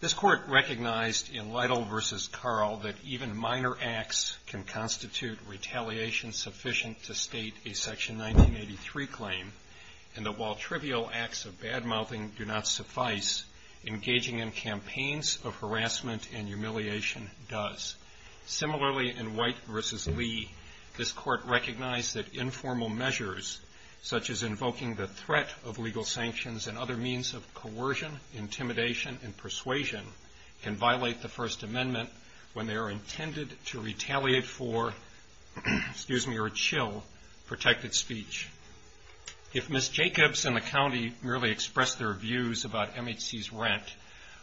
This Court recognized in Lytle v. Carl that even minor acts can constitute retaliation sufficient to state a Section 1983 claim, and that while trivial acts of bad-mouthing do not suffice, engaging in campaigns of harassment and humiliation does. Similarly, in White v. Lee, this Court recognized that informal measures, such as invoking the threat of legal sanctions and other means of coercion, intimidation, and persuasion, can violate the First Amendment when they are intended to retaliate for, excuse me, or chill protected speech. If Ms. Jacobs and the county merely expressed their views about MHC's rent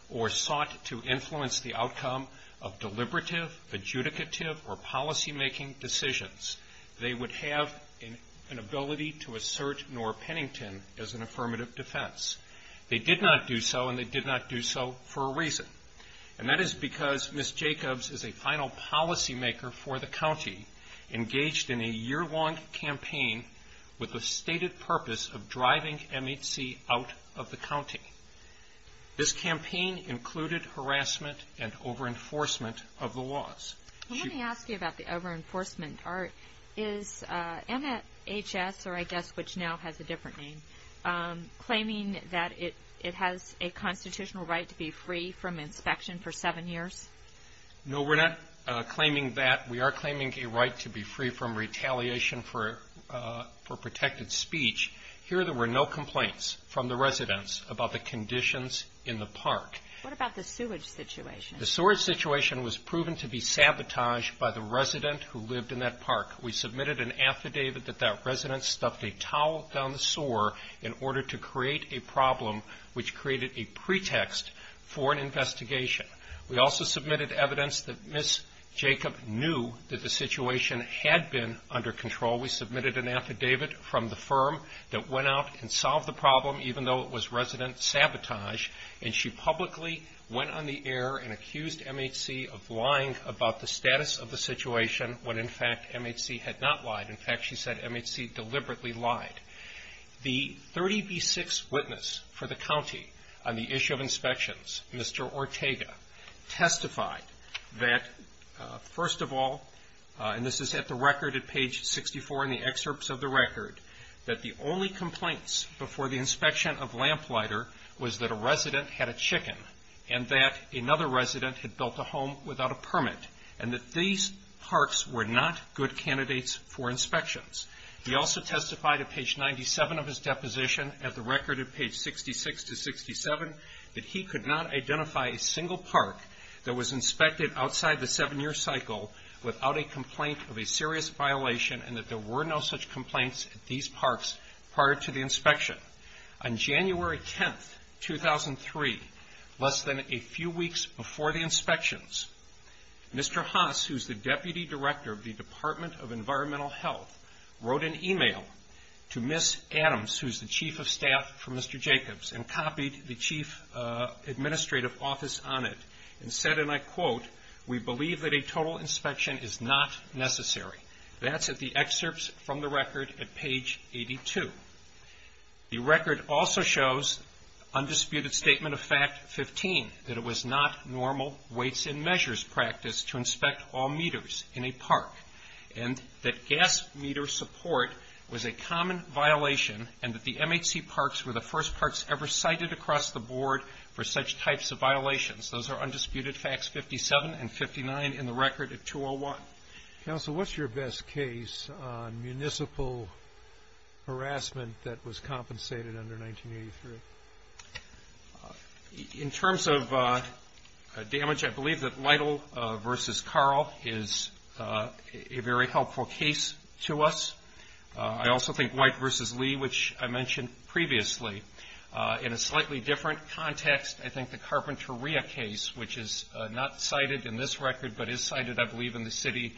or sought to influence the outcome of deliberative, adjudicative, or policymaking decisions, they would have an ability to assert Nora Pennington as an affirmative defense. They did not do so, and they did not do so for a reason, and that is because Ms. Jacobs is a final policymaker for the banning MHC out of the county. This campaign included harassment and over-enforcement of the laws. Well, let me ask you about the over-enforcement. Is MHS, or I guess which now has a different name, claiming that it has a constitutional right to be free from inspection for seven years? No, we're not claiming that. We are claiming a right to be free from retaliation for protected speech. Here, there were no complaints from the residents about the conditions in the park. What about the sewage situation? The sewage situation was proven to be sabotaged by the resident who lived in that park. We submitted an affidavit that that resident stuffed a towel down the sewer in order to create a problem which created a pretext for an investigation. We also submitted evidence that Ms. Jacobs knew that the situation had been under control. We submitted an affidavit from the firm that went out and solved the problem, even though it was resident sabotage, and she publicly went on the air and accused MHC of lying about the status of the situation, when in fact, MHC had not lied. In fact, she said MHC deliberately lied. The 30B6 witness for the county on the left that, first of all, and this is at the record at page 64 in the excerpts of the record, that the only complaints before the inspection of Lamplighter was that a resident had a chicken and that another resident had built a home without a permit, and that these parks were not good candidates for inspections. He also testified at page 97 of his deposition at the record at page 66 to 67 that he could not identify a single park that was inspected outside the seven-year cycle without a complaint of a serious violation and that there were no such complaints at these parks prior to the inspection. On January 10, 2003, less than a few weeks before the inspections, Mr. Haas, who is the Deputy Director of the Department of Environmental Health, wrote an email to Ms. Adams, who is the Chief of Staff for Mr. Jacobs, and copied the Chief Administrative Office on it, and said, and I quote, we believe that a total inspection is not necessary. That's at the excerpts from the record at page 82. The record also shows undisputed statement of fact 15, that it was not normal weights and measures practice to inspect all meters in a park, and that gas meter support was a common violation, and that the MHC parks were the first parks ever cited across the board for such types of violations. Those are undisputed facts 57 and 59 in the record at 201. Counsel, what's your best case on municipal harassment that was compensated under 1983? In terms of damage, I believe that Lytle v. Carl is a very helpful case to us. I also think White v. Lee, which I mentioned previously. In a slightly different context, I think the Carpinteria case, which is not cited in this record, but is cited, I believe, in the City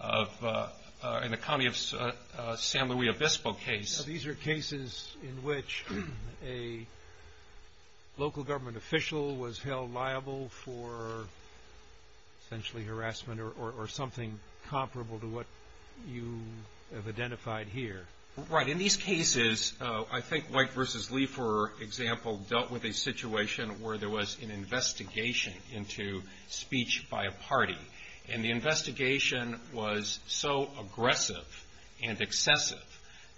of the County of San Luis Obispo case. These are cases in which a local government official was held liable for essentially harassment or something comparable to what you have identified here. Right. In these cases, I think White v. Lee, for example, dealt with a situation where there was an investigation into speech by a party, and the investigation was so aggressive and excessive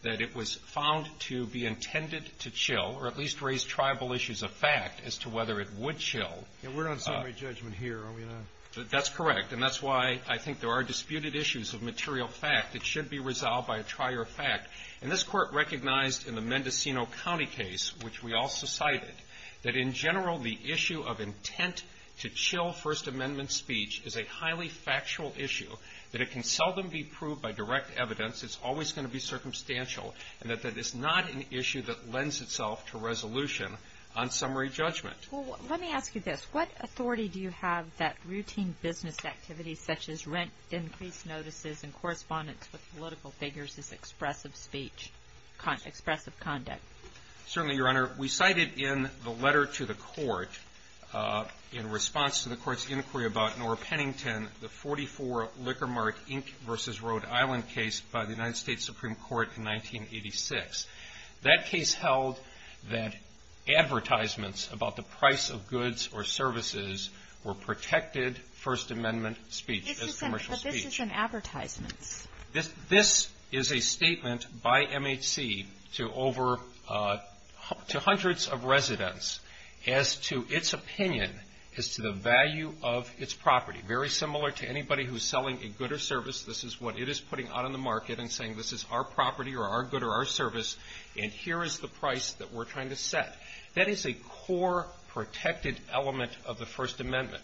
that it was found to be intended to chill, or at least raise tribal issues of fact as to whether it would chill. We're not on summary judgment here, are we now? That's correct, and that's why I think there are disputed issues of material fact that should be resolved by a trier of fact. To chill First Amendment speech is a highly factual issue, that it can seldom be proved by direct evidence. It's always going to be circumstantial, and that that is not an issue that lends itself to resolution on summary judgment. Well, let me ask you this. What authority do you have that routine business activities such as rent increase notices and correspondence with political figures is expressive speech, expressive conduct? Certainly, Your Honor. We cited in the letter to the Court, in response to the Court's inquiry about Nora Pennington, the 44 Liquor Mart, Inc. v. Rhode Island case by the United States Supreme Court in 1986. That case held that advertisements about the price of goods or services were protected First Amendment speech as commercial speech. But this is in advertisements. This is a statement by MHC to hundreds of residents as to its opinion as to the value of its property. Very similar to anybody who's selling a good or service. This is what it is putting out on the market and saying, this is our property or our good or our service, and here is the price that we're trying to set. That is a core protected element of the First Amendment.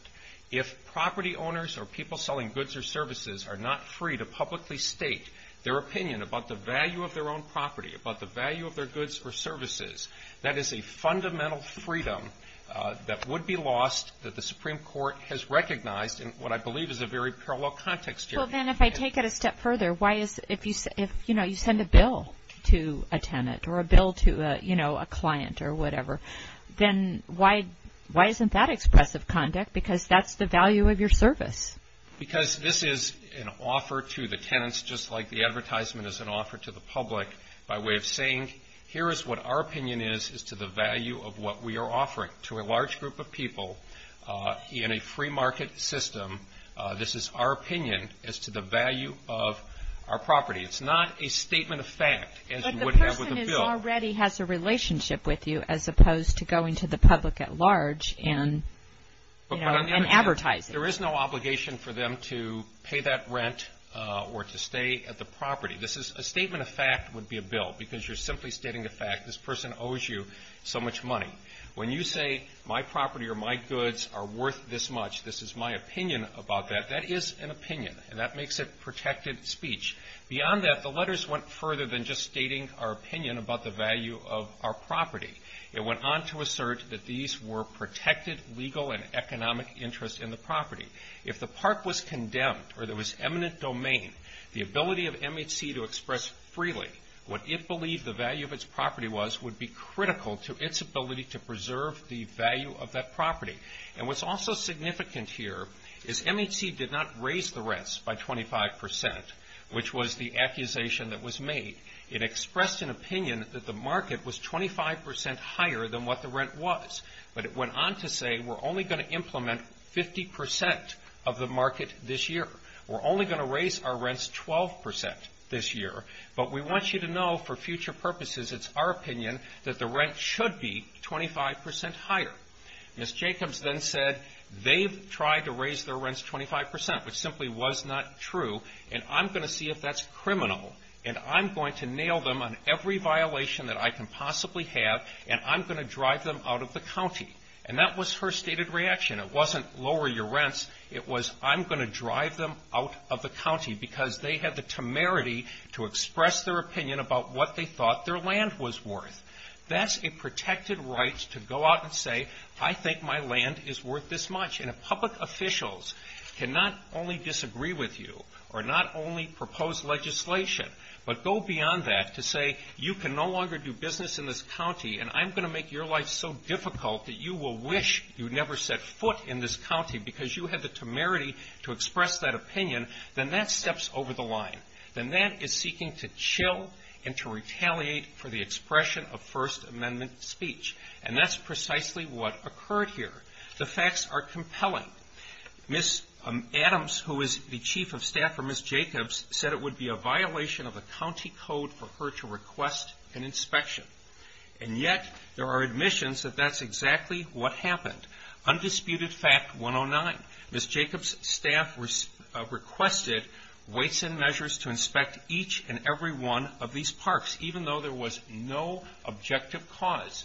If property owners or people selling goods or services are not free to publicly state their opinion about the value of their own property, about the value of their goods or services, that is a fundamental freedom that would be lost that the Supreme Court has recognized in what I believe is a very parallel context here. So then if I take it a step further, if you send a bill to a tenant or a bill to a client or whatever, then why isn't that expressive conduct? Because that's the value of your service. Because this is an offer to the tenants just like the advertisement is an offer to the public by way of saying, here is what our opinion is as to the value of what we are offering to a large group of people in a free market system. This is our opinion as to the value of our property. It's not a statement of fact as you would have with a bill. But the person already has a relationship with you as opposed to going to the public at large and advertising. There is no obligation for them to pay that rent or to stay at the property. This is a statement of fact would be a bill because you're simply stating the fact this person owes you so much money. When you say my property or my goods are worth this much, this is my opinion about that, that is an opinion. And that makes it protected speech. Beyond that, the letters went further than just stating our opinion about the value of our property. It went on to assert that these were protected legal and economic interests in the property. If the park was condemned or there was eminent domain, the ability of MHC to express freely what it believed the value of its property was, would be critical to its ability to preserve the value of that property. And what's also significant here is MHC did not raise the rents by 25%, which was the accusation that was made. It expressed an opinion that the market was 25% higher than what the rent was. But it went on to say we're only going to implement 50% of the market this year. We're only going to raise our rents 12% this year, but we want you to know for future purposes it's our opinion that the rent should be 25% higher. Ms. Jacobs then said they've tried to raise their rents 25%, which simply was not true. And I'm going to see if that's criminal, and I'm going to nail them on every violation that I can possibly have, and I'm going to drive them out of the county. And that was her stated reaction. It wasn't lower your rents. It was I'm going to drive them out of the county, because they had the temerity to express their opinion about what they thought their land was worth. That's a protected right to go out and say I think my land is worth this much. And if public officials cannot only disagree with you, or not only propose legislation, but go beyond that to say you can no longer do business in this county, and I'm going to make your life so difficult that you will wish you never set foot in this county, because you had the temerity to express that opinion, then that steps over the line. Then that is seeking to chill and to retaliate for the expression of First Amendment speech. And that's precisely what occurred here. The facts are compelling. Ms. Adams, who is the chief of staff for Ms. Jacobs, said it would be a violation of the county code for her to request an inspection. And yet there are admissions that that's exactly what happened. Undisputed fact 109. Ms. Jacobs' staff requested weights and measures to inspect each and every one of these parks, even though there was no objective cause.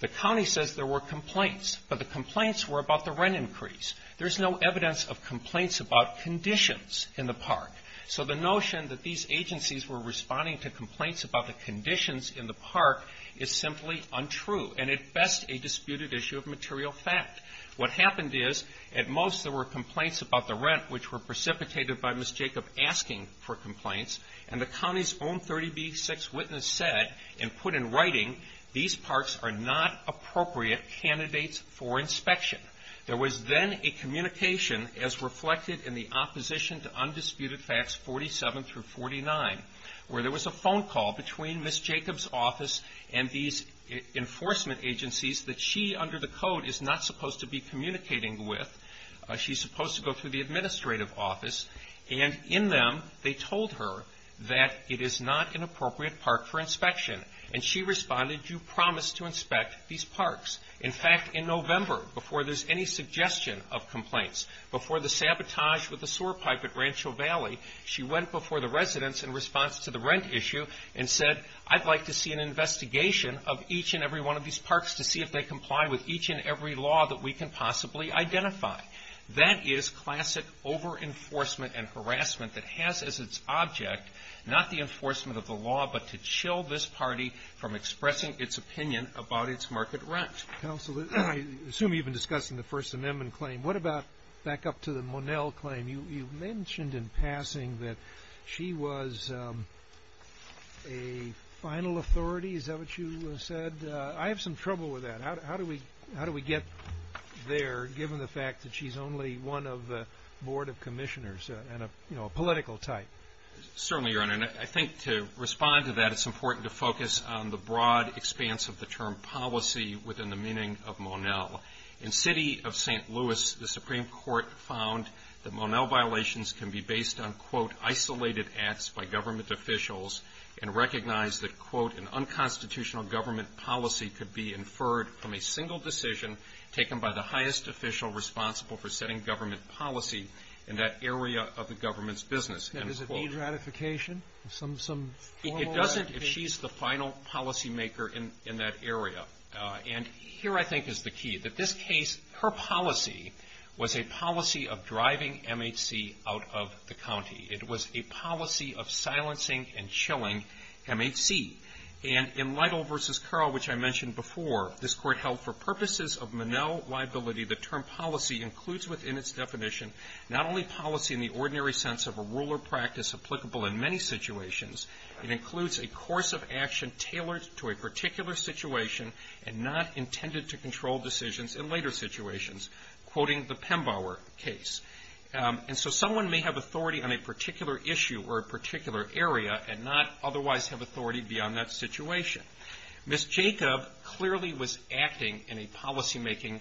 The county says there were complaints. But the complaints were about the rent increase. There's no evidence of complaints about conditions in the park. So the notion that these agencies were responding to complaints about the conditions in the park is simply untrue, and at best a disputed issue of material fact. What happened is, at most there were complaints about the rent, which were precipitated by Ms. Jacobs asking for complaints. And the county's own 30B6 witness said, and put in writing, There was then a communication, as reflected in the opposition to undisputed facts 47 through 49, where there was a phone call between Ms. Jacobs' office and these enforcement agencies that she, under the code, is not supposed to be communicating with. She's supposed to go through the administrative office, and in them they told her that it is not an appropriate park for inspection. And she responded, In fact, in November, before there's any suggestion of complaints, before the sabotage with the sewer pipe at Rancho Valley, she went before the residents in response to the rent issue and said, That is classic over-enforcement and harassment that has as its object not the enforcement of the law, but to chill this party from expressing its opinion about its market rent. Counsel, I assume you've been discussing the First Amendment claim. What about back up to the Monell claim? You mentioned in passing that she was a final authority. Is that what you said? I have some trouble with that. How do we get there, given the fact that she's only one of the board of commissioners and a political type? Certainly, Your Honor, and I think to respond to that, it's important to focus on the broad expanse of the term policy within the meaning of Monell. In the city of St. Louis, the Supreme Court found that Monell violations can be based on, quote, isolated acts by government officials and recognize that, quote, an unconstitutional government policy could be inferred from a single decision taken by the It doesn't if she's the final policy maker in that area. And here, I think, is the key. That this case, her policy was a policy of driving MHC out of the county. It was a policy of silencing and chilling MHC. And in Lytle v. Carl, which I mentioned before, this court held for purposes of Monell liability, the term policy includes within its definition, not only policy in the ordinary sense of a rule or practice applicable in many situations, it includes a course of action tailored to a particular situation and not intended to control decisions in later situations, quoting the Pembauer case. And so someone may have authority on a particular issue or a particular area and not otherwise have authority beyond that situation. Ms. Jacob clearly was acting in a policymaking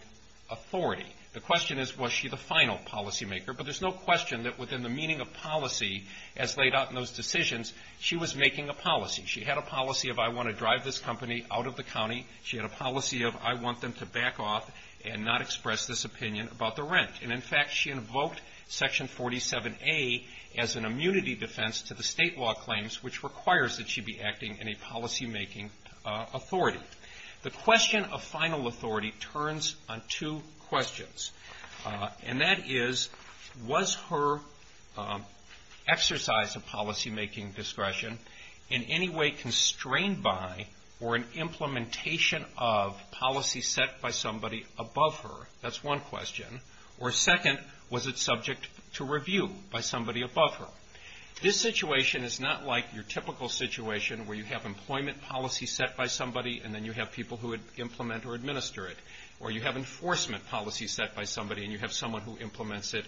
authority. The question is, was she the final policymaker? But there's no question that within the meaning of policy as laid out in those decisions, she was making a policy. She had a policy of I want to drive this company out of the county. She had a policy of I want them to back off and not express this opinion about the rent. And in fact, she invoked Section 47A as an immunity defense to the state law claims, which requires that she be acting in a policymaking authority. The question of final authority turns on two questions, and that is, was her exercise of policymaking discretion in any way constrained by or an implementation of policy set by somebody above her? That's one question. Or second, was it subject to review by somebody above her? This situation is not like your typical situation where you have employment policy set by somebody, and then you have people who implement or administer it. Or you have enforcement policy set by somebody, and you have someone who implements it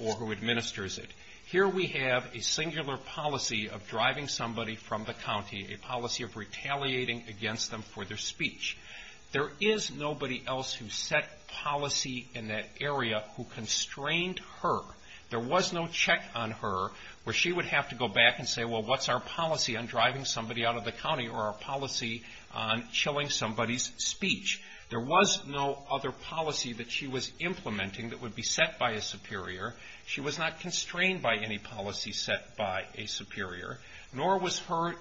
or who administers it. Here we have a singular policy of driving somebody from the county, a policy of retaliating against them for their speech. There is nobody else who set policy in that area who constrained her. There was no check on her where she would have to go back and say, well, what's our policy on driving somebody out of the county or our policy on chilling somebody's speech? There was no other policy that she was implementing that would be set by a superior. She was not constrained by any policy set by a superior, nor was her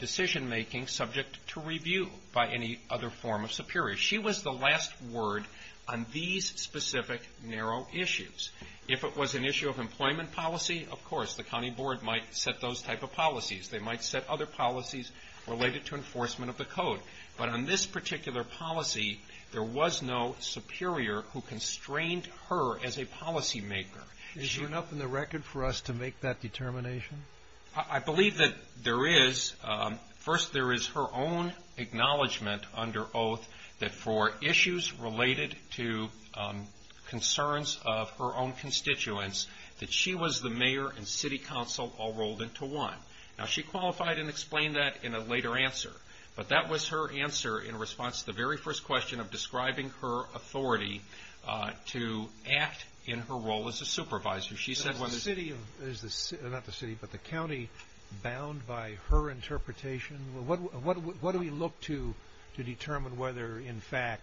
decision-making subject to review by any other form of superior. She was the last word on these specific narrow issues. If it was an issue of employment policy, of course, the county board might set those type of policies. They might set other policies related to enforcement of the code. But on this particular policy, there was no superior who constrained her as a policymaker. Is there enough in the record for us to make that determination? I believe that there is. First, there is her own acknowledgment under oath that for issues related to concerns of her own constituents, that she was the mayor and city council all rolled into one. Now, she qualified and explained that in a later answer. But that was her answer in response to the very first question of describing her authority to act in her role as a superior. But is the county bound by her interpretation? What do we look to determine whether, in fact,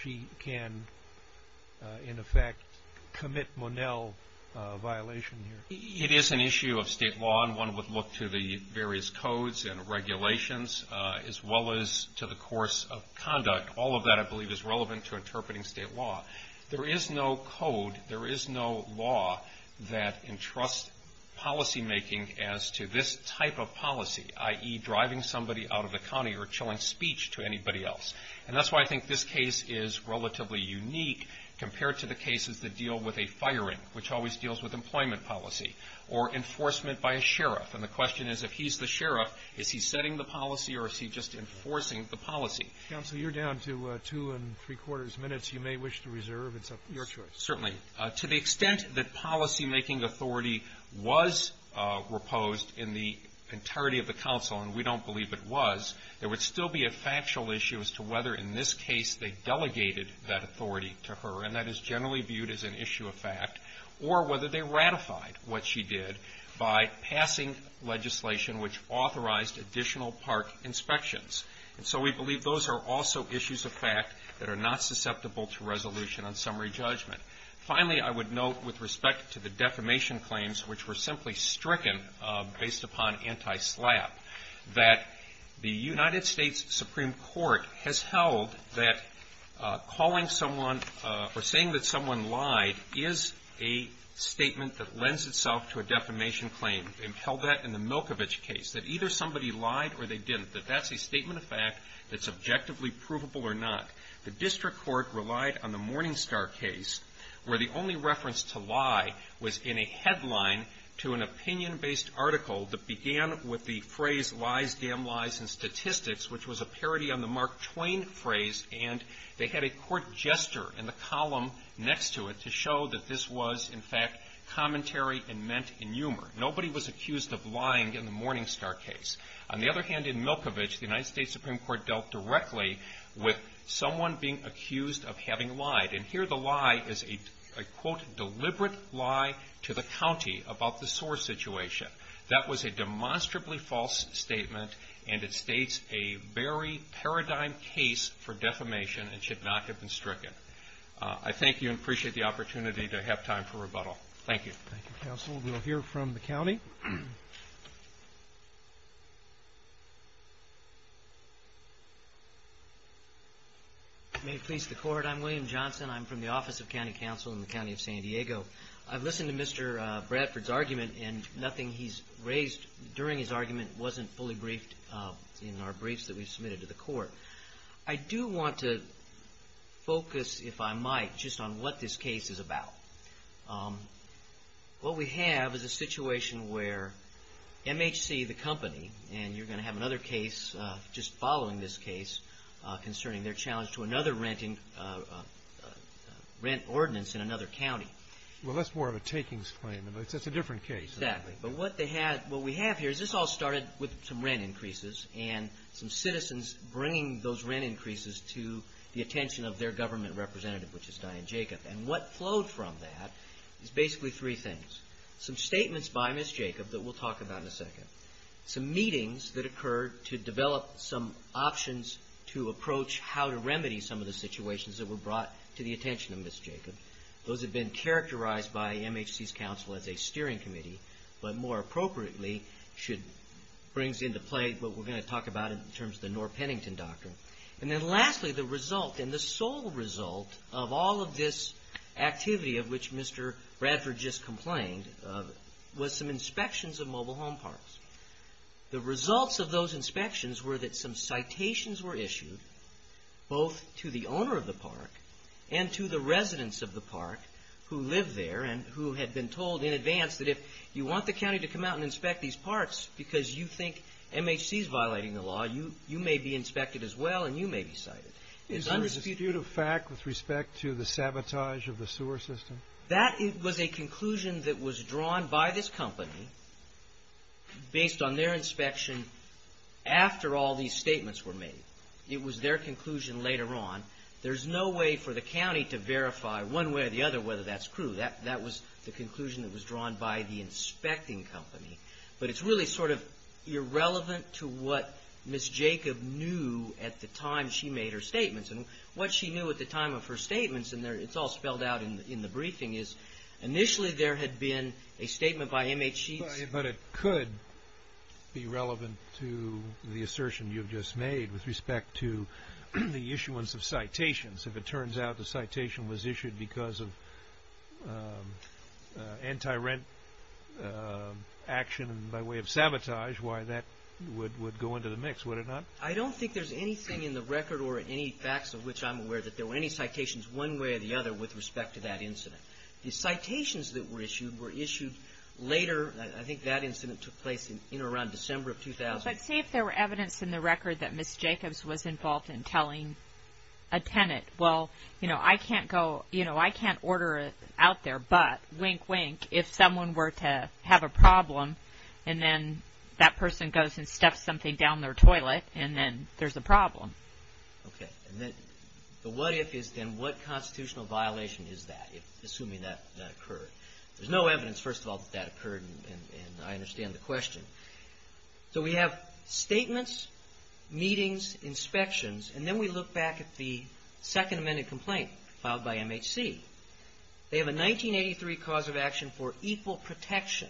she can, in effect, commit Monell violation here? It is an issue of state law, and one would look to the various codes and regulations, as well as to the course of conduct. All of that, I believe, is relevant to interpreting state law. There is no code, there is no law that entrusts policymaking as to this type of policy, i.e., driving somebody out of the county or chilling speech to anybody else. And that's why I think this case is relatively unique compared to the cases that deal with a firing, which always deals with employment policy, or enforcement by a sheriff. And the question is, if he's the sheriff, is he setting the policy, or is he just enforcing the policy? Counsel, you're down to two and three quarters minutes. You may wish to reserve. It's up to your choice. Certainly. To the extent that policymaking authority was reposed in the entirety of the council, and we don't believe it was, there would still be a factual issue as to whether, in this case, they delegated that authority to her, and that is generally viewed as an issue of fact, or whether they ratified what she did by passing legislation which authorized additional park inspections. And so we believe those are also issues of fact that are not susceptible to resolution on summary judgment. Finally, I would note, with respect to the defamation claims, which were simply stricken based upon anti-SLAPP, that the United States Supreme Court has held that calling someone, or saying that someone lied, is a statement that lends itself to a defamation case, and that is a defamation claim. They've held that in the Milkovich case, that either somebody lied or they didn't, that that's a statement of fact that's objectively provable or not. The district court relied on the Morningstar case, where the only reference to lie was in a headline to an opinion-based article that began with the phrase, lies, damn lies, and statistics, which was a parody on the Mark Twain phrase, and they had a court jester in the column next to it to show that this was, in fact, commentary and meant in humor. Nobody was accused of lying in the Morningstar case. On the other hand, in Milkovich, the United States Supreme Court dealt directly with someone being accused of having lied, and here the lie is a, I quote, deliberate lie to the county about the SOAR situation. That was a demonstrably false statement, and it states a very paradigm case for defamation and should not have been made. I'm happy to have time for rebuttal. Thank you. Thank you, counsel. We'll hear from the county. May it please the court. I'm William Johnson. I'm from the Office of County Counsel in the County of San Diego. I've listened to Mr. Bradford's argument, and nothing he's raised during his argument wasn't fully briefed in our briefs that we've submitted to the court. I do want to focus, if I might, just on what this case is about. What we have is a situation where MHC, the company, and you're going to have another case just following this case concerning their challenge to another rent ordinance in another county. Well, that's more of a takings claim. It's a different case. Exactly, but what we have here is this all started with some rent increases and some citizens bringing those rent increases to the attention of their counsel. And the result of that is basically three things. Some statements by Ms. Jacob that we'll talk about in a second. Some meetings that occurred to develop some options to approach how to remedy some of the situations that were brought to the attention of Ms. Jacob. Those have been characterized by MHC's counsel as a steering committee, but more appropriately brings into play what we're going to talk about in terms of the Norr-Pennington doctrine. And then lastly, the result and the sole result of all of this activity of which Mr. Radford just complained was some inspections of mobile home parks. The results of those inspections were that some citations were issued both to the owner of the park and to the residents of the park who live there and who had been told in advance that if you want the county to come out and inspect these parks because you think MHC's violating the law, you may be inspected as well and you may be cited. Is there a dispute of fact with respect to the sabotage of the sewer system? That was a conclusion that was drawn by this company based on their inspection after all these statements were made. It was their conclusion later on. There's no way for the county to verify one way or the other whether that's true. That was the conclusion that was drawn by the inspecting company. But it's really sort of irrelevant to what Ms. Jacob knew at the time she made her statement. And what she knew at the time of her statements, and it's all spelled out in the briefing, is initially there had been a statement by MHC's. But it could be relevant to the assertion you've just made with respect to the issuance of citations. If it turns out the citation was issued because of anti-rent action by way of sabotage, why that would go into the mix, would it not? I don't think there's anything in the record or any facts of which I'm aware that there were any citations one way or the other with respect to that incident. The citations that were issued were issued later. I think that incident took place in or around December of 2000. But see if there were evidence in the record that Ms. Jacobs was involved in telling a tenant, well, you know, I can't go, you know, I can't order it out there, but, wink, wink, if someone were to have a problem and then that person goes and stuffs something down their toilet and it's gone. And then there's a problem. Okay. And then the what if is then what constitutional violation is that if assuming that occurred? There's no evidence, first of all, that that occurred. And I understand the question. So we have statements, meetings, inspections. And then we look back at the Second Amendment complaint filed by MHC. They have a 1983 cause of action for equal protection.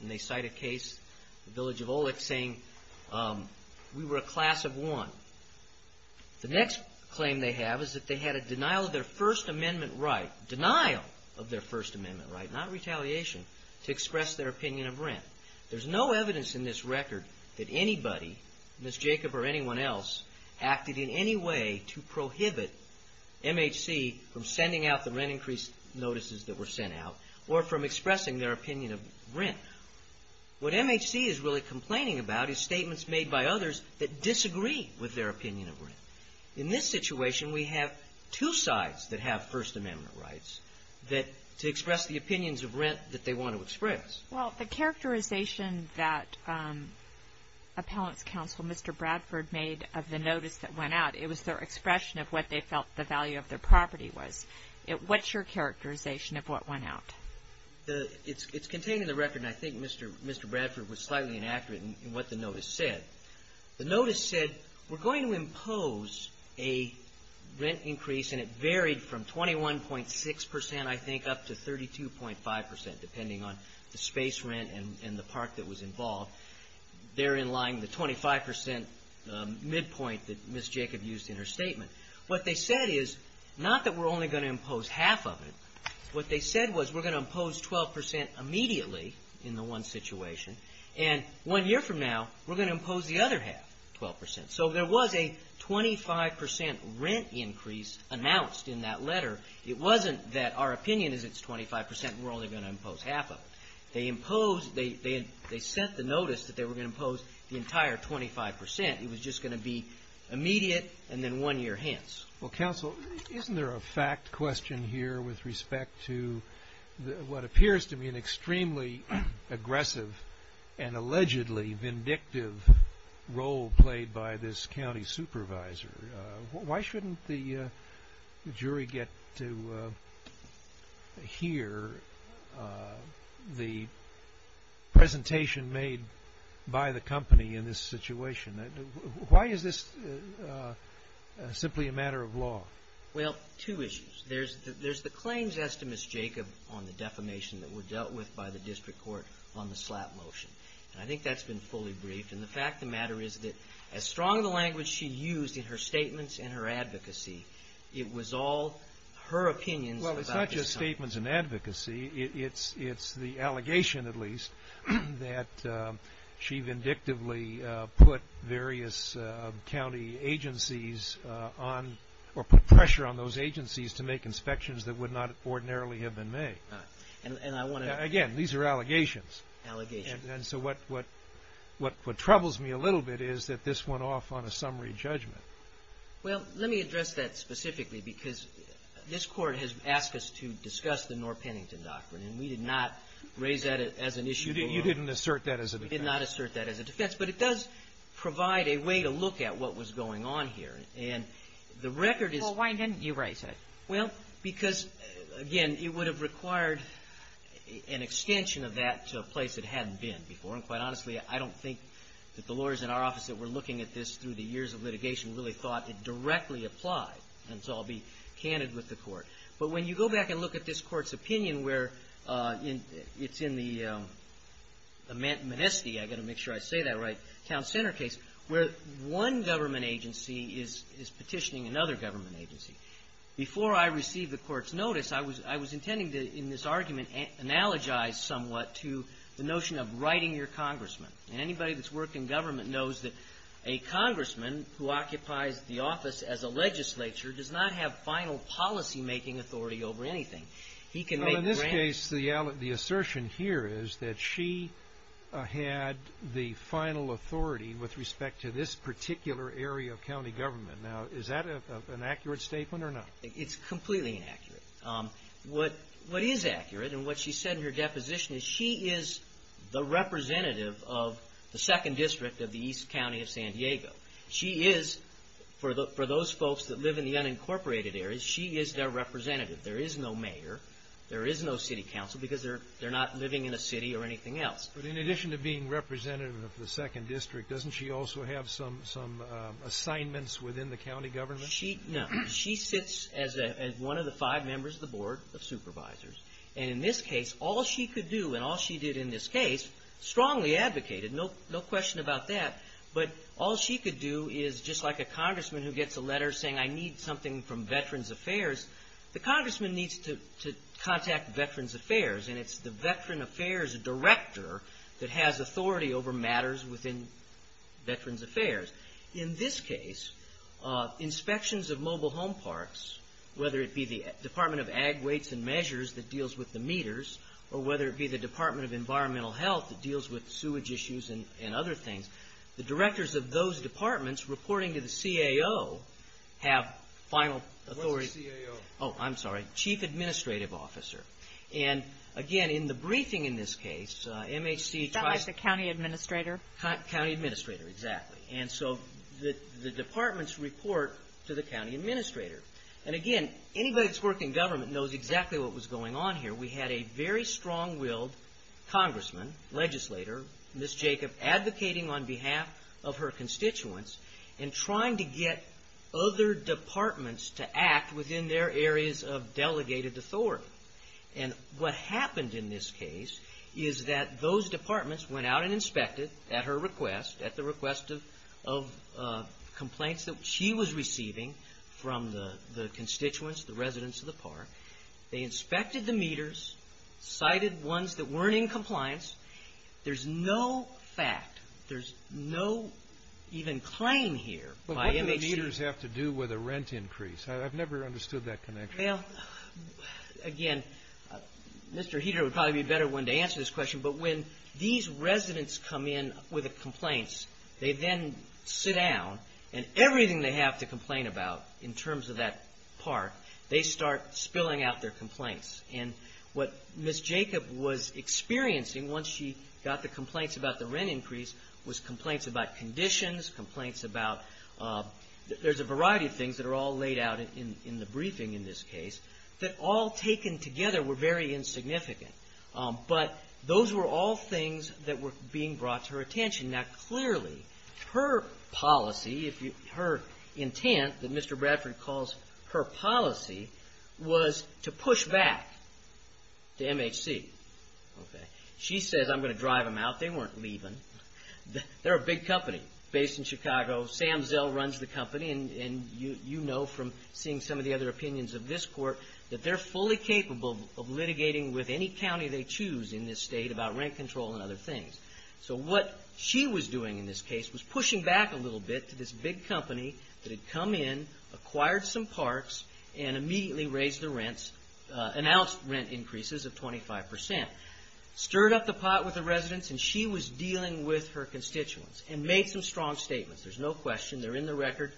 And they cite a case, the village of Olek, saying we were a class of one. The next claim they have is that they had a denial of their First Amendment right, denial of their First Amendment right, not retaliation, to express their opinion of rent. There's no evidence in this record that anybody, Ms. Jacob or anyone else, acted in any way to prohibit MHC from sending out the rent increase notices that were sent out or from expressing their opinion of rent. What MHC is really complaining about is statements made by others that disagree with their opinion of rent. In this situation, we have two sides that have First Amendment rights to express the opinions of rent that they want to express. Well, the characterization that Appellants' Counsel Mr. Bradford made of the notice that went out, it was their expression of what they felt the value of their property was. What's your characterization of what went out? It's contained in the record, and I think Mr. Bradford was slightly inaccurate in what the notice said. The notice said, we're going to impose a rent increase, and it varied from 21.6 percent, I think, up to 32.5 percent, depending on the space rent and the park that was involved. They're in line with the 25 percent midpoint that Ms. Jacob used in her statement. What they said is, not that we're only going to impose half of it. What they said was, we're going to impose 12 percent immediately in the one situation, and one year from now, we're going to impose the other half, 12 percent. So there was a 25 percent rent increase announced in that letter. It wasn't that our opinion is it's 25 percent and we're only going to impose half of it. They imposed, they sent the notice that they were going to impose the entire 25 percent. It was just going to be immediate, and then one year hence. Well, counsel, isn't there a fact question here with respect to what appears to be an extremely aggressive and allegedly vindictive role played by this county supervisor? Why shouldn't the jury get to hear the presentation made by the company in this situation? Why is this simply a matter of law? Well, two issues. There's the claims as to Ms. Jacob on the defamation that were dealt with by the district court on the slap motion. And I think that's been fully briefed, and the fact of the matter is that as strong of a language she used in her statements and her advocacy, it was all her opinions. Well, it's not just statements and advocacy. It's the allegation, at least, that she vindictively put various county agencies on, or put pressure on those agencies to make inspections that would not ordinarily have been made. Again, these are allegations, and so what troubles me a little bit is that this went off on a summary judgment. Well, let me address that specifically because this court has asked us to discuss the Norr-Pennington case. And we did not raise that as an issue. You did not assert that as a defense. But it does provide a way to look at what was going on here, and the record is... Well, why didn't you raise that? Well, because, again, it would have required an extension of that to a place it hadn't been before. And quite honestly, I don't think that the lawyers in our office that were looking at this through the years of litigation really thought it directly applied. And so I'll be candid with the court. But when you go back and look at this court's opinion where it's in the Manistee, I've got to make sure I say that right, town center case, where one government agency is petitioning another government agency. Before I received the court's notice, I was intending to, in this argument, analogize somewhat to the notion of writing your congressman. And anybody that's worked in government knows that a congressman who occupies the office as a legislature does not have final policy-making powers. He can make grants. Well, in this case, the assertion here is that she had the final authority with respect to this particular area of county government. Now, is that an accurate statement or not? It's completely inaccurate. What is accurate, and what she said in her deposition, is she is the representative of the 2nd District of the East County of San Diego. She is, for those folks that live in the unincorporated areas, she is their representative. There is no mayor, there is no city council, because they're not living in a city or anything else. But in addition to being representative of the 2nd District, doesn't she also have some assignments within the county government? No. She sits as one of the five members of the Board of Supervisors. And in this case, all she could do, and all she did in this case, strongly advocated, no question about that. But all she could do is, just like a congressman who gets a letter saying, I need something from Veterans Affairs, the congressman needs to contact Veterans Affairs, and it's the Veteran Affairs director that has authority over matters within Veterans Affairs. In this case, inspections of mobile home parks, whether it be the Department of Ag, Weights, and Measures that deals with the meters, or whether it be the Department of Environmental Health that deals with sewage issues and other things, the directors of those departments, reporting to the CAO, have final authority. What's a CAO? Chief Administrative Officer. And again, anybody that's worked in government knows exactly what was going on here. We had a very strong-willed congressman, legislator, Ms. Jacob, advocating on behalf of the county. On behalf of her constituents, and trying to get other departments to act within their areas of delegated authority. And what happened in this case is that those departments went out and inspected, at her request, at the request of complaints that she was receiving from the constituents, the residents of the park. They inspected the meters, cited ones that weren't in compliance. There's no fact, there's no even claim here by MHC. But what do the meters have to do with a rent increase? I've never understood that connection. Well, again, Mr. Heater would probably be a better one to answer this question, but when these residents come in with complaints, they then sit down, and everything they have to complain about, in terms of that park, they start spilling out their complaints. And what Ms. Jacob was experiencing, once she got the complaints about the rent increase, was complaints about conditions, complaints about, there's a variety of things that are all laid out in the briefing in this case, that all taken together were very insignificant. But those were all things that were being brought to her attention. Now, clearly, her policy, her intent, that Mr. Bradford calls her policy, was to push back. To MHC. She says, I'm going to drive them out. They weren't leaving. They're a big company, based in Chicago. Sam Zell runs the company, and you know from seeing some of the other opinions of this court, that they're fully capable of litigating with any county they choose in this state about rent control and other things. So what she was doing in this case was pushing back a little bit to this big company that had come in, acquired some parks, and immediately raised the rents, announced rent increases of 25%. Stirred up the pot with the residents, and she was dealing with her constituents, and made some strong statements. There's no question. They're in the record.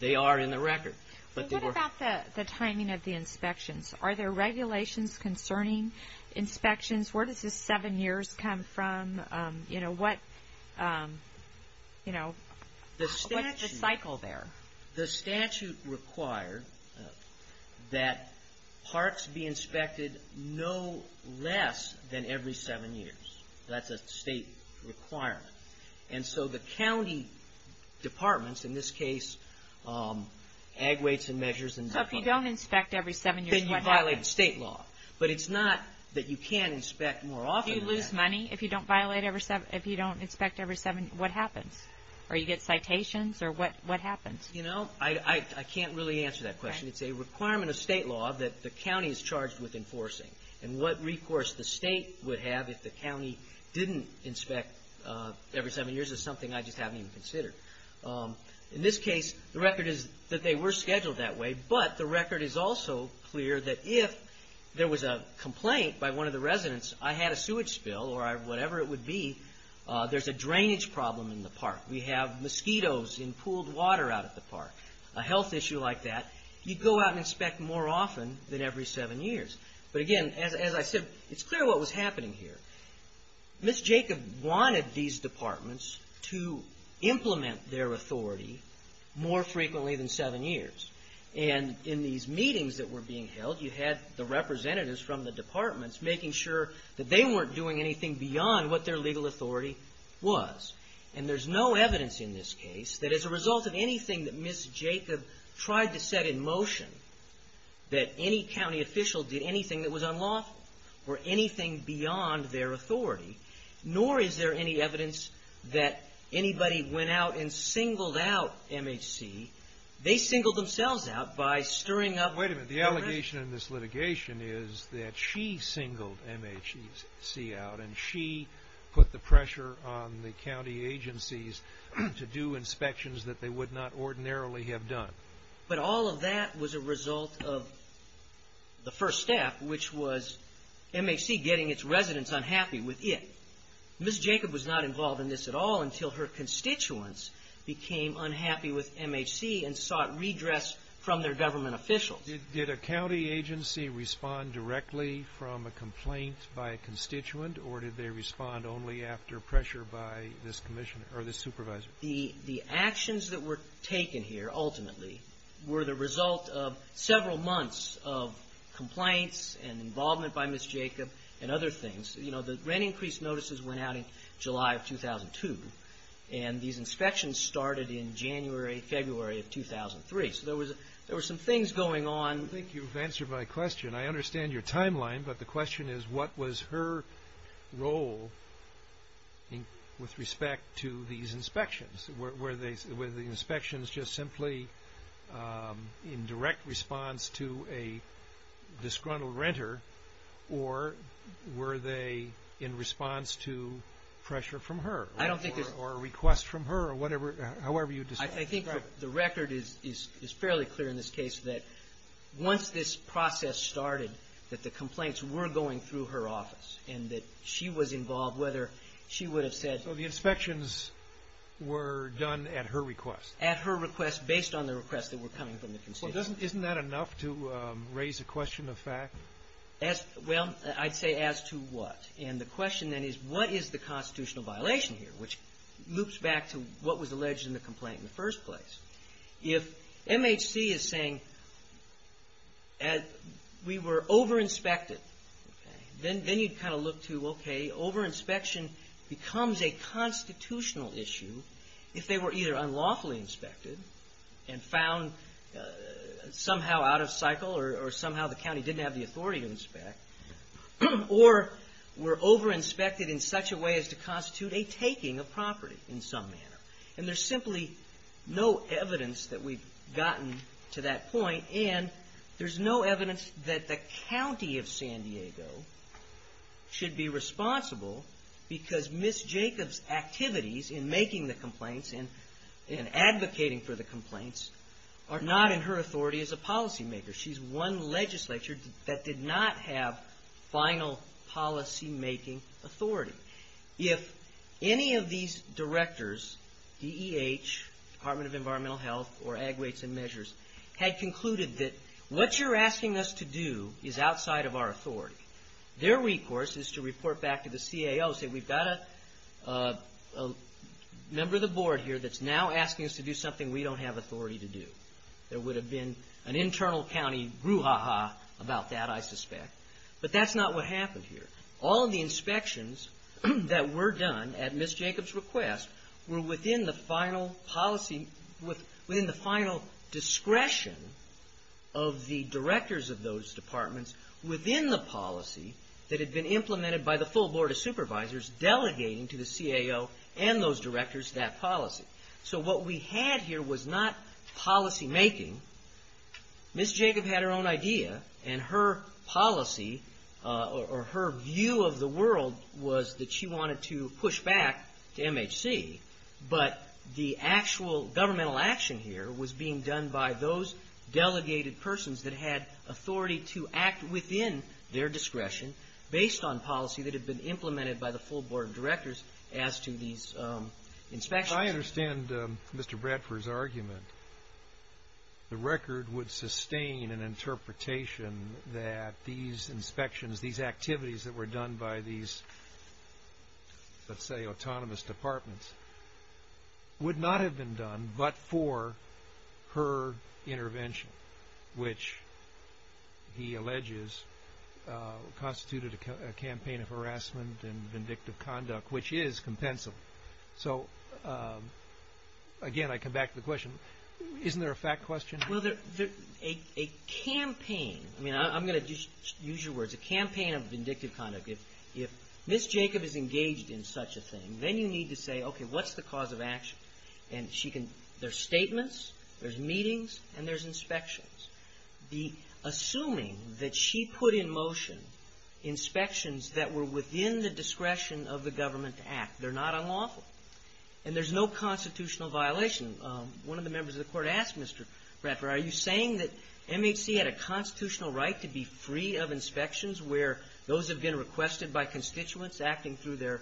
They are in the record. But what about the timing of the inspections? Are there regulations concerning inspections? Where does this seven years come from? What's the cycle there? The statute required that parks be inspected no less than every seven years. That's a state requirement. And so the county departments, in this case, ag weights and measures and... So if you don't inspect every seven years, what happens? Then you violate the state law. But it's not that you can't inspect more often than that. If you lose money, if you don't inspect every seven, what happens? Or you get citations? Or what happens? I can't really answer that question. It's a requirement of state law that the county is charged with enforcing. And what recourse the state would have if the county didn't inspect every seven years is something I just haven't even considered. In this case, the record is that they were scheduled that way, but the record is also clear that if there was a complaint by one of the residents, I had a sewage spill or whatever it would be, there's a drainage problem in the park. We have mosquitoes in pooled water out at the park. A health issue like that, you'd go out and inspect more often than every seven years. But again, as I said, it's clear what was happening here. Ms. Jacob wanted these departments to implement their authority more frequently than seven years. And in these meetings that were being held, you had the representatives from the departments making sure that they weren't doing anything beyond what their legal authority was. And there's no evidence in this case that as a result of anything that Ms. Jacob tried to set in motion, that any county official did anything that was unlawful or anything beyond their authority, nor is there any evidence that anybody went out and singled out MHC. They singled themselves out by stirring up the rest. The implication in this litigation is that she singled MHC out, and she put the pressure on the county agencies to do inspections that they would not ordinarily have done. But all of that was a result of the first step, which was MHC getting its residents unhappy with it. Ms. Jacob was not involved in this at all until her constituents became unhappy with MHC and sought redress from their government officials. Did a county agency respond directly from a complaint by a constituent, or did they respond only after pressure by this supervisor? The actions that were taken here, ultimately, were the result of several months of complaints and involvement by Ms. Jacob and other things. You know, the rent increase notices went out in July of 2002, and these inspections started in January, February of 2003. So there were some things going on. I think you've answered my question. I understand your timeline, but the question is, what was her role with respect to these inspections? Were the inspections just simply in direct response to a disgruntled renter, or were they in response to pressure from her, or a request from her, or however you describe it? I think the record is fairly clear in this case that once this process started, that the complaints were going through her office, and that she was involved, whether she would have said — So the inspections were done at her request? At her request, based on the requests that were coming from the constituents. Well, isn't that enough to raise a question of fact? Well, I'd say as to what. And the question then is, what is the constitutional violation here, which loops back to what was alleged in the complaint in the first place? If MHC is saying, we were over-inspected, then you'd kind of look to, okay, over-inspection becomes a constitutional issue if they were either unlawfully inspected, and found somehow out of cycle, or somehow the county didn't have the authority to inspect, or were over-inspected in such a way as to constitute a taking of property in some manner. And there's simply no evidence that we've gotten to that point, and there's no evidence that the county of San Diego should be responsible, because Ms. Jacobs' activities in making the complaints and advocating for the complaints are not in her authority as a policymaker. She's one legislature that did not have final policymaking authority. If any of these directors, DEH, Department of Environmental Health, or Ag Rates and Measures, had concluded that what you're asking us to do is outside of our authority, their recourse is to report back to the CAO and say, we've got a member of the board here that's now asking us to do something we don't have authority to do. There would have been an internal county brouhaha about that, I suspect. But that's not what happened here. All of the inspections that were done at Ms. Jacobs' request were within the final policy, within the final discretion of the directors of those departments, within the policy that had been implemented by the full board of supervisors, delegating to the CAO and those directors that policy. So what we had here was not policymaking. Ms. Jacobs had her own idea, and her policy, or her view of the world, was that she wanted to push back to MHC, but the actual governmental action here was being done by those delegated persons that had authority to act within their discretion, based on policy that had been implemented by the full board of directors as to these inspections. If I understand Mr. Bradford's argument, the record would sustain an interpretation that these inspections, these activities that were done by these, let's say, autonomous departments, would not have been done but for her intervention, which he alleges constituted a campaign of harassment and vindictive conduct, which is compensable. So again, I come back to the question, isn't there a fact question? Well, a campaign, I mean, I'm going to use your words, a campaign of vindictive conduct, if Ms. Jacobs is engaged in such a thing, then you need to say, okay, what's the cause of action? There's statements, there's meetings, and there's inspections. Assuming that she put in motion inspections that were within the discretion of the government to act, they're not unlawful, and there's no constitutional violation. One of the members of the court asked Mr. Bradford, are you saying that MHC had a constitutional right to be free of inspections where those have been requested by constituents acting through their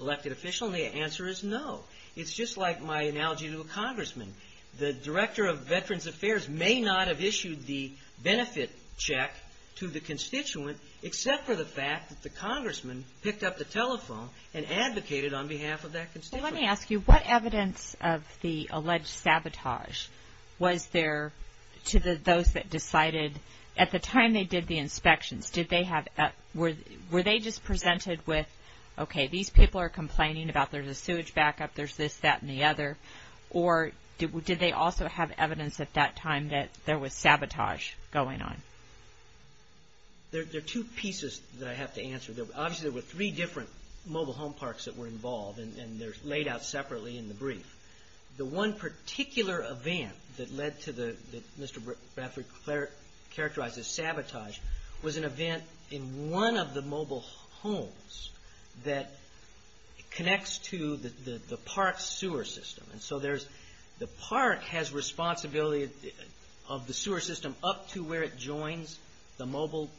elected official? And the answer is no. It's just like my analogy to a congressman. The Director of Veterans Affairs may not have issued the benefit check to the constituent, except for the fact that the congressman picked up the telephone and advocated on behalf of that constituent. Well, let me ask you, what evidence of the alleged sabotage was there to those that decided, at the time they did the inspections, were they just presented with, okay, these people are complaining about there's a sewage backup, there's this, that, and the other, or did they also have evidence at that time that there was sabotage going on? There are two pieces that I have to answer. Obviously, there were three different mobile home parks that were involved, and they're laid out separately in the brief. The one particular event that led to the, that Mr. Bradford characterized as sabotage, was an event in one of the mobile homes that connects to the park's sewer system. And so there's, the park has responsibility of the sewer system up to where it joins the mobile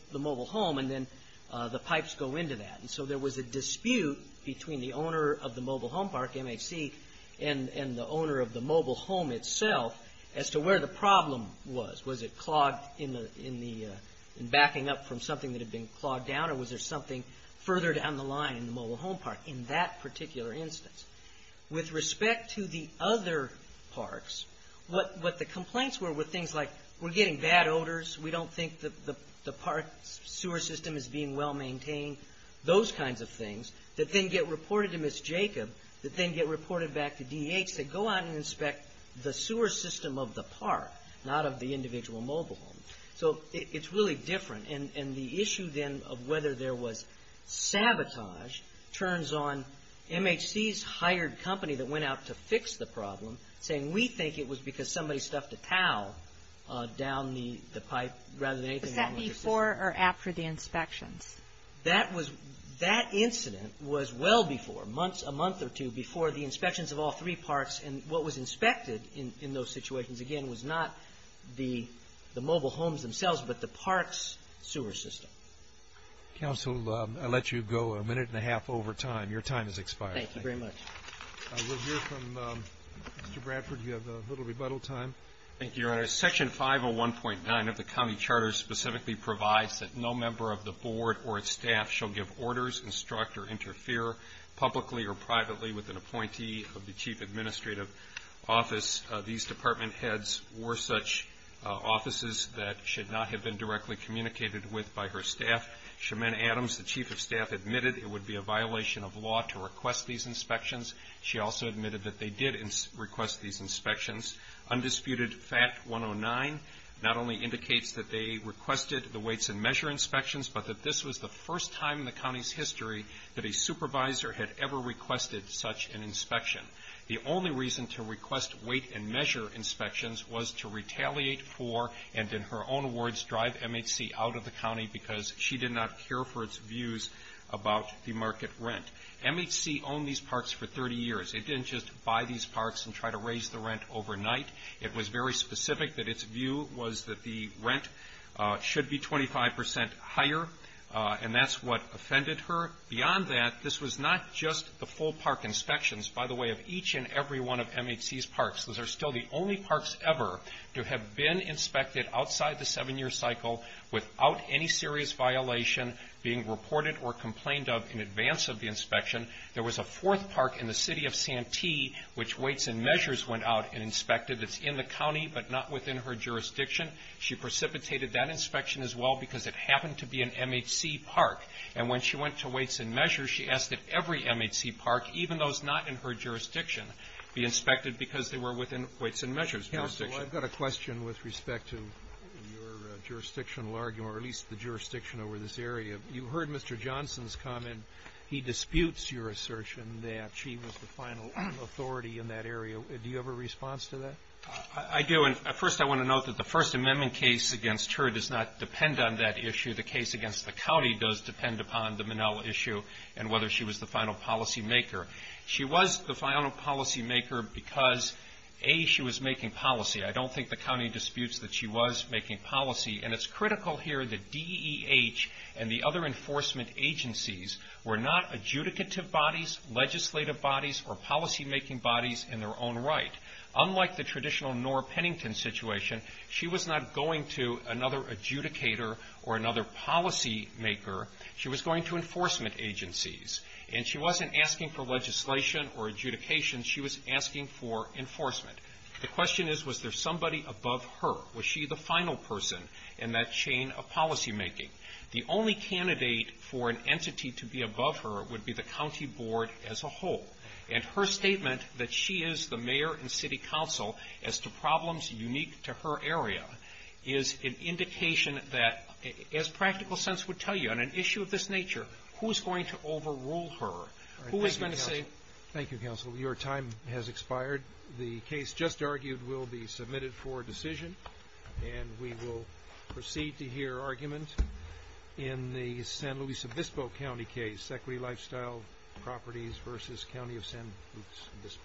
home, and then the pipes go into that. And so there was a dispute between the owner of the mobile home park, MHC, and the owner of the mobile home itself as to where the problem was. Was it clogged in the, in backing up from something that had been clogged down, or was there something further down the line in the mobile home park in that particular instance? With respect to the other parks, what the complaints were were things like, we're getting bad odors, we don't think the park's sewer system is being well-maintained, those kinds of things that then get reported to Ms. Jacob, that then get reported back to DEH to go out and inspect the sewer system of the park, not of the individual mobile home. So it's really different, and the issue then of whether there was sabotage turns on MHC's hired company that went out to fix the problem, saying, we think it was because somebody stuffed a towel down the pipe rather than anything else. Was that before or after the inspections? That incident was well before, a month or two before the inspections of all three parks, and what was inspected in those situations, again, was not the mobile homes themselves, but the park's sewer system. Counsel, I'll let you go a minute and a half over time. Your time has expired. Thank you very much. We'll hear from Mr. Bradford. You have a little rebuttal time. Thank you, Your Honor. Section 501.9 of the county charter specifically provides that no member of the board or its staff shall give orders, instruct, or interfere publicly or privately with an appointee of the chief administrative office. These department heads wore such offices that should not have been directly communicated with by her staff. Sherman Adams, the chief of staff, admitted it would be a violation of law to request these inspections. She also admitted that they did request these inspections. Undisputed Fact 109 not only indicates that they requested the weights and measure inspections, but that this was the first time in the county's history that a supervisor had ever requested such an inspection. The only reason to request weight and measure inspections was to retaliate for, and in her own words, drive MHC out of the county because she did not care for its views about the market rent. MHC owned these parks for 30 years. It didn't just buy these parks and try to raise the rent overnight. It was very specific that its view was that the rent should be 25% higher, and that's what offended her. Beyond that, this was not just the full park inspections. By the way, of each and every one of MHC's parks, those are still the only parks ever to have been inspected outside the seven-year cycle without any serious violation being reported or complained of in advance of the inspection. There was a fourth park in the city of Santee, which weights and measures went out and inspected. It's in the county, but not within her jurisdiction. She precipitated that inspection as well because it happened to be an MHC park, and when she went to weights and measures, she asked that every MHC park, even those not in her jurisdiction, be inspected because they were within weights and measures' jurisdiction. Kennedy. Counsel, I've got a question with respect to your jurisdictional argument, or at least the jurisdiction over this area. You heard Mr. Johnson's comment. He disputes your assertion that she was the final authority in that area. Do you have a response to that? I do, and first I want to note that the First Amendment case against her does not depend on that issue. The case against the county does depend upon the Minnell issue and whether she was the final policymaker. She was the final policymaker because, A, she was making policy. I don't think the county disputes that she was making policy, and it's critical here that DEH and the other enforcement agencies were not adjudicative bodies, legislative bodies, or policymaking bodies in their own right. Unlike the traditional Nora Pennington situation, she was not going to another adjudicator or another policymaker. She was going to enforcement agencies, and she wasn't asking for legislation or adjudication. She was asking for enforcement. The question is, was there somebody above her? Was she the final person in that chain of policymaking? The only candidate for an entity to be above her would be the county board as a whole, and her statement that she is the mayor and city council as to problems unique to her area is an indication that, as practical sense would tell you, on an issue of this nature, who is going to overrule her? Who is going to say? Thank you, counsel. Your time has expired. The case just argued will be submitted for decision, and we will proceed to hear argument in the San Luis Obispo County case, Equity Lifestyle Properties v. County of San Luis Obispo.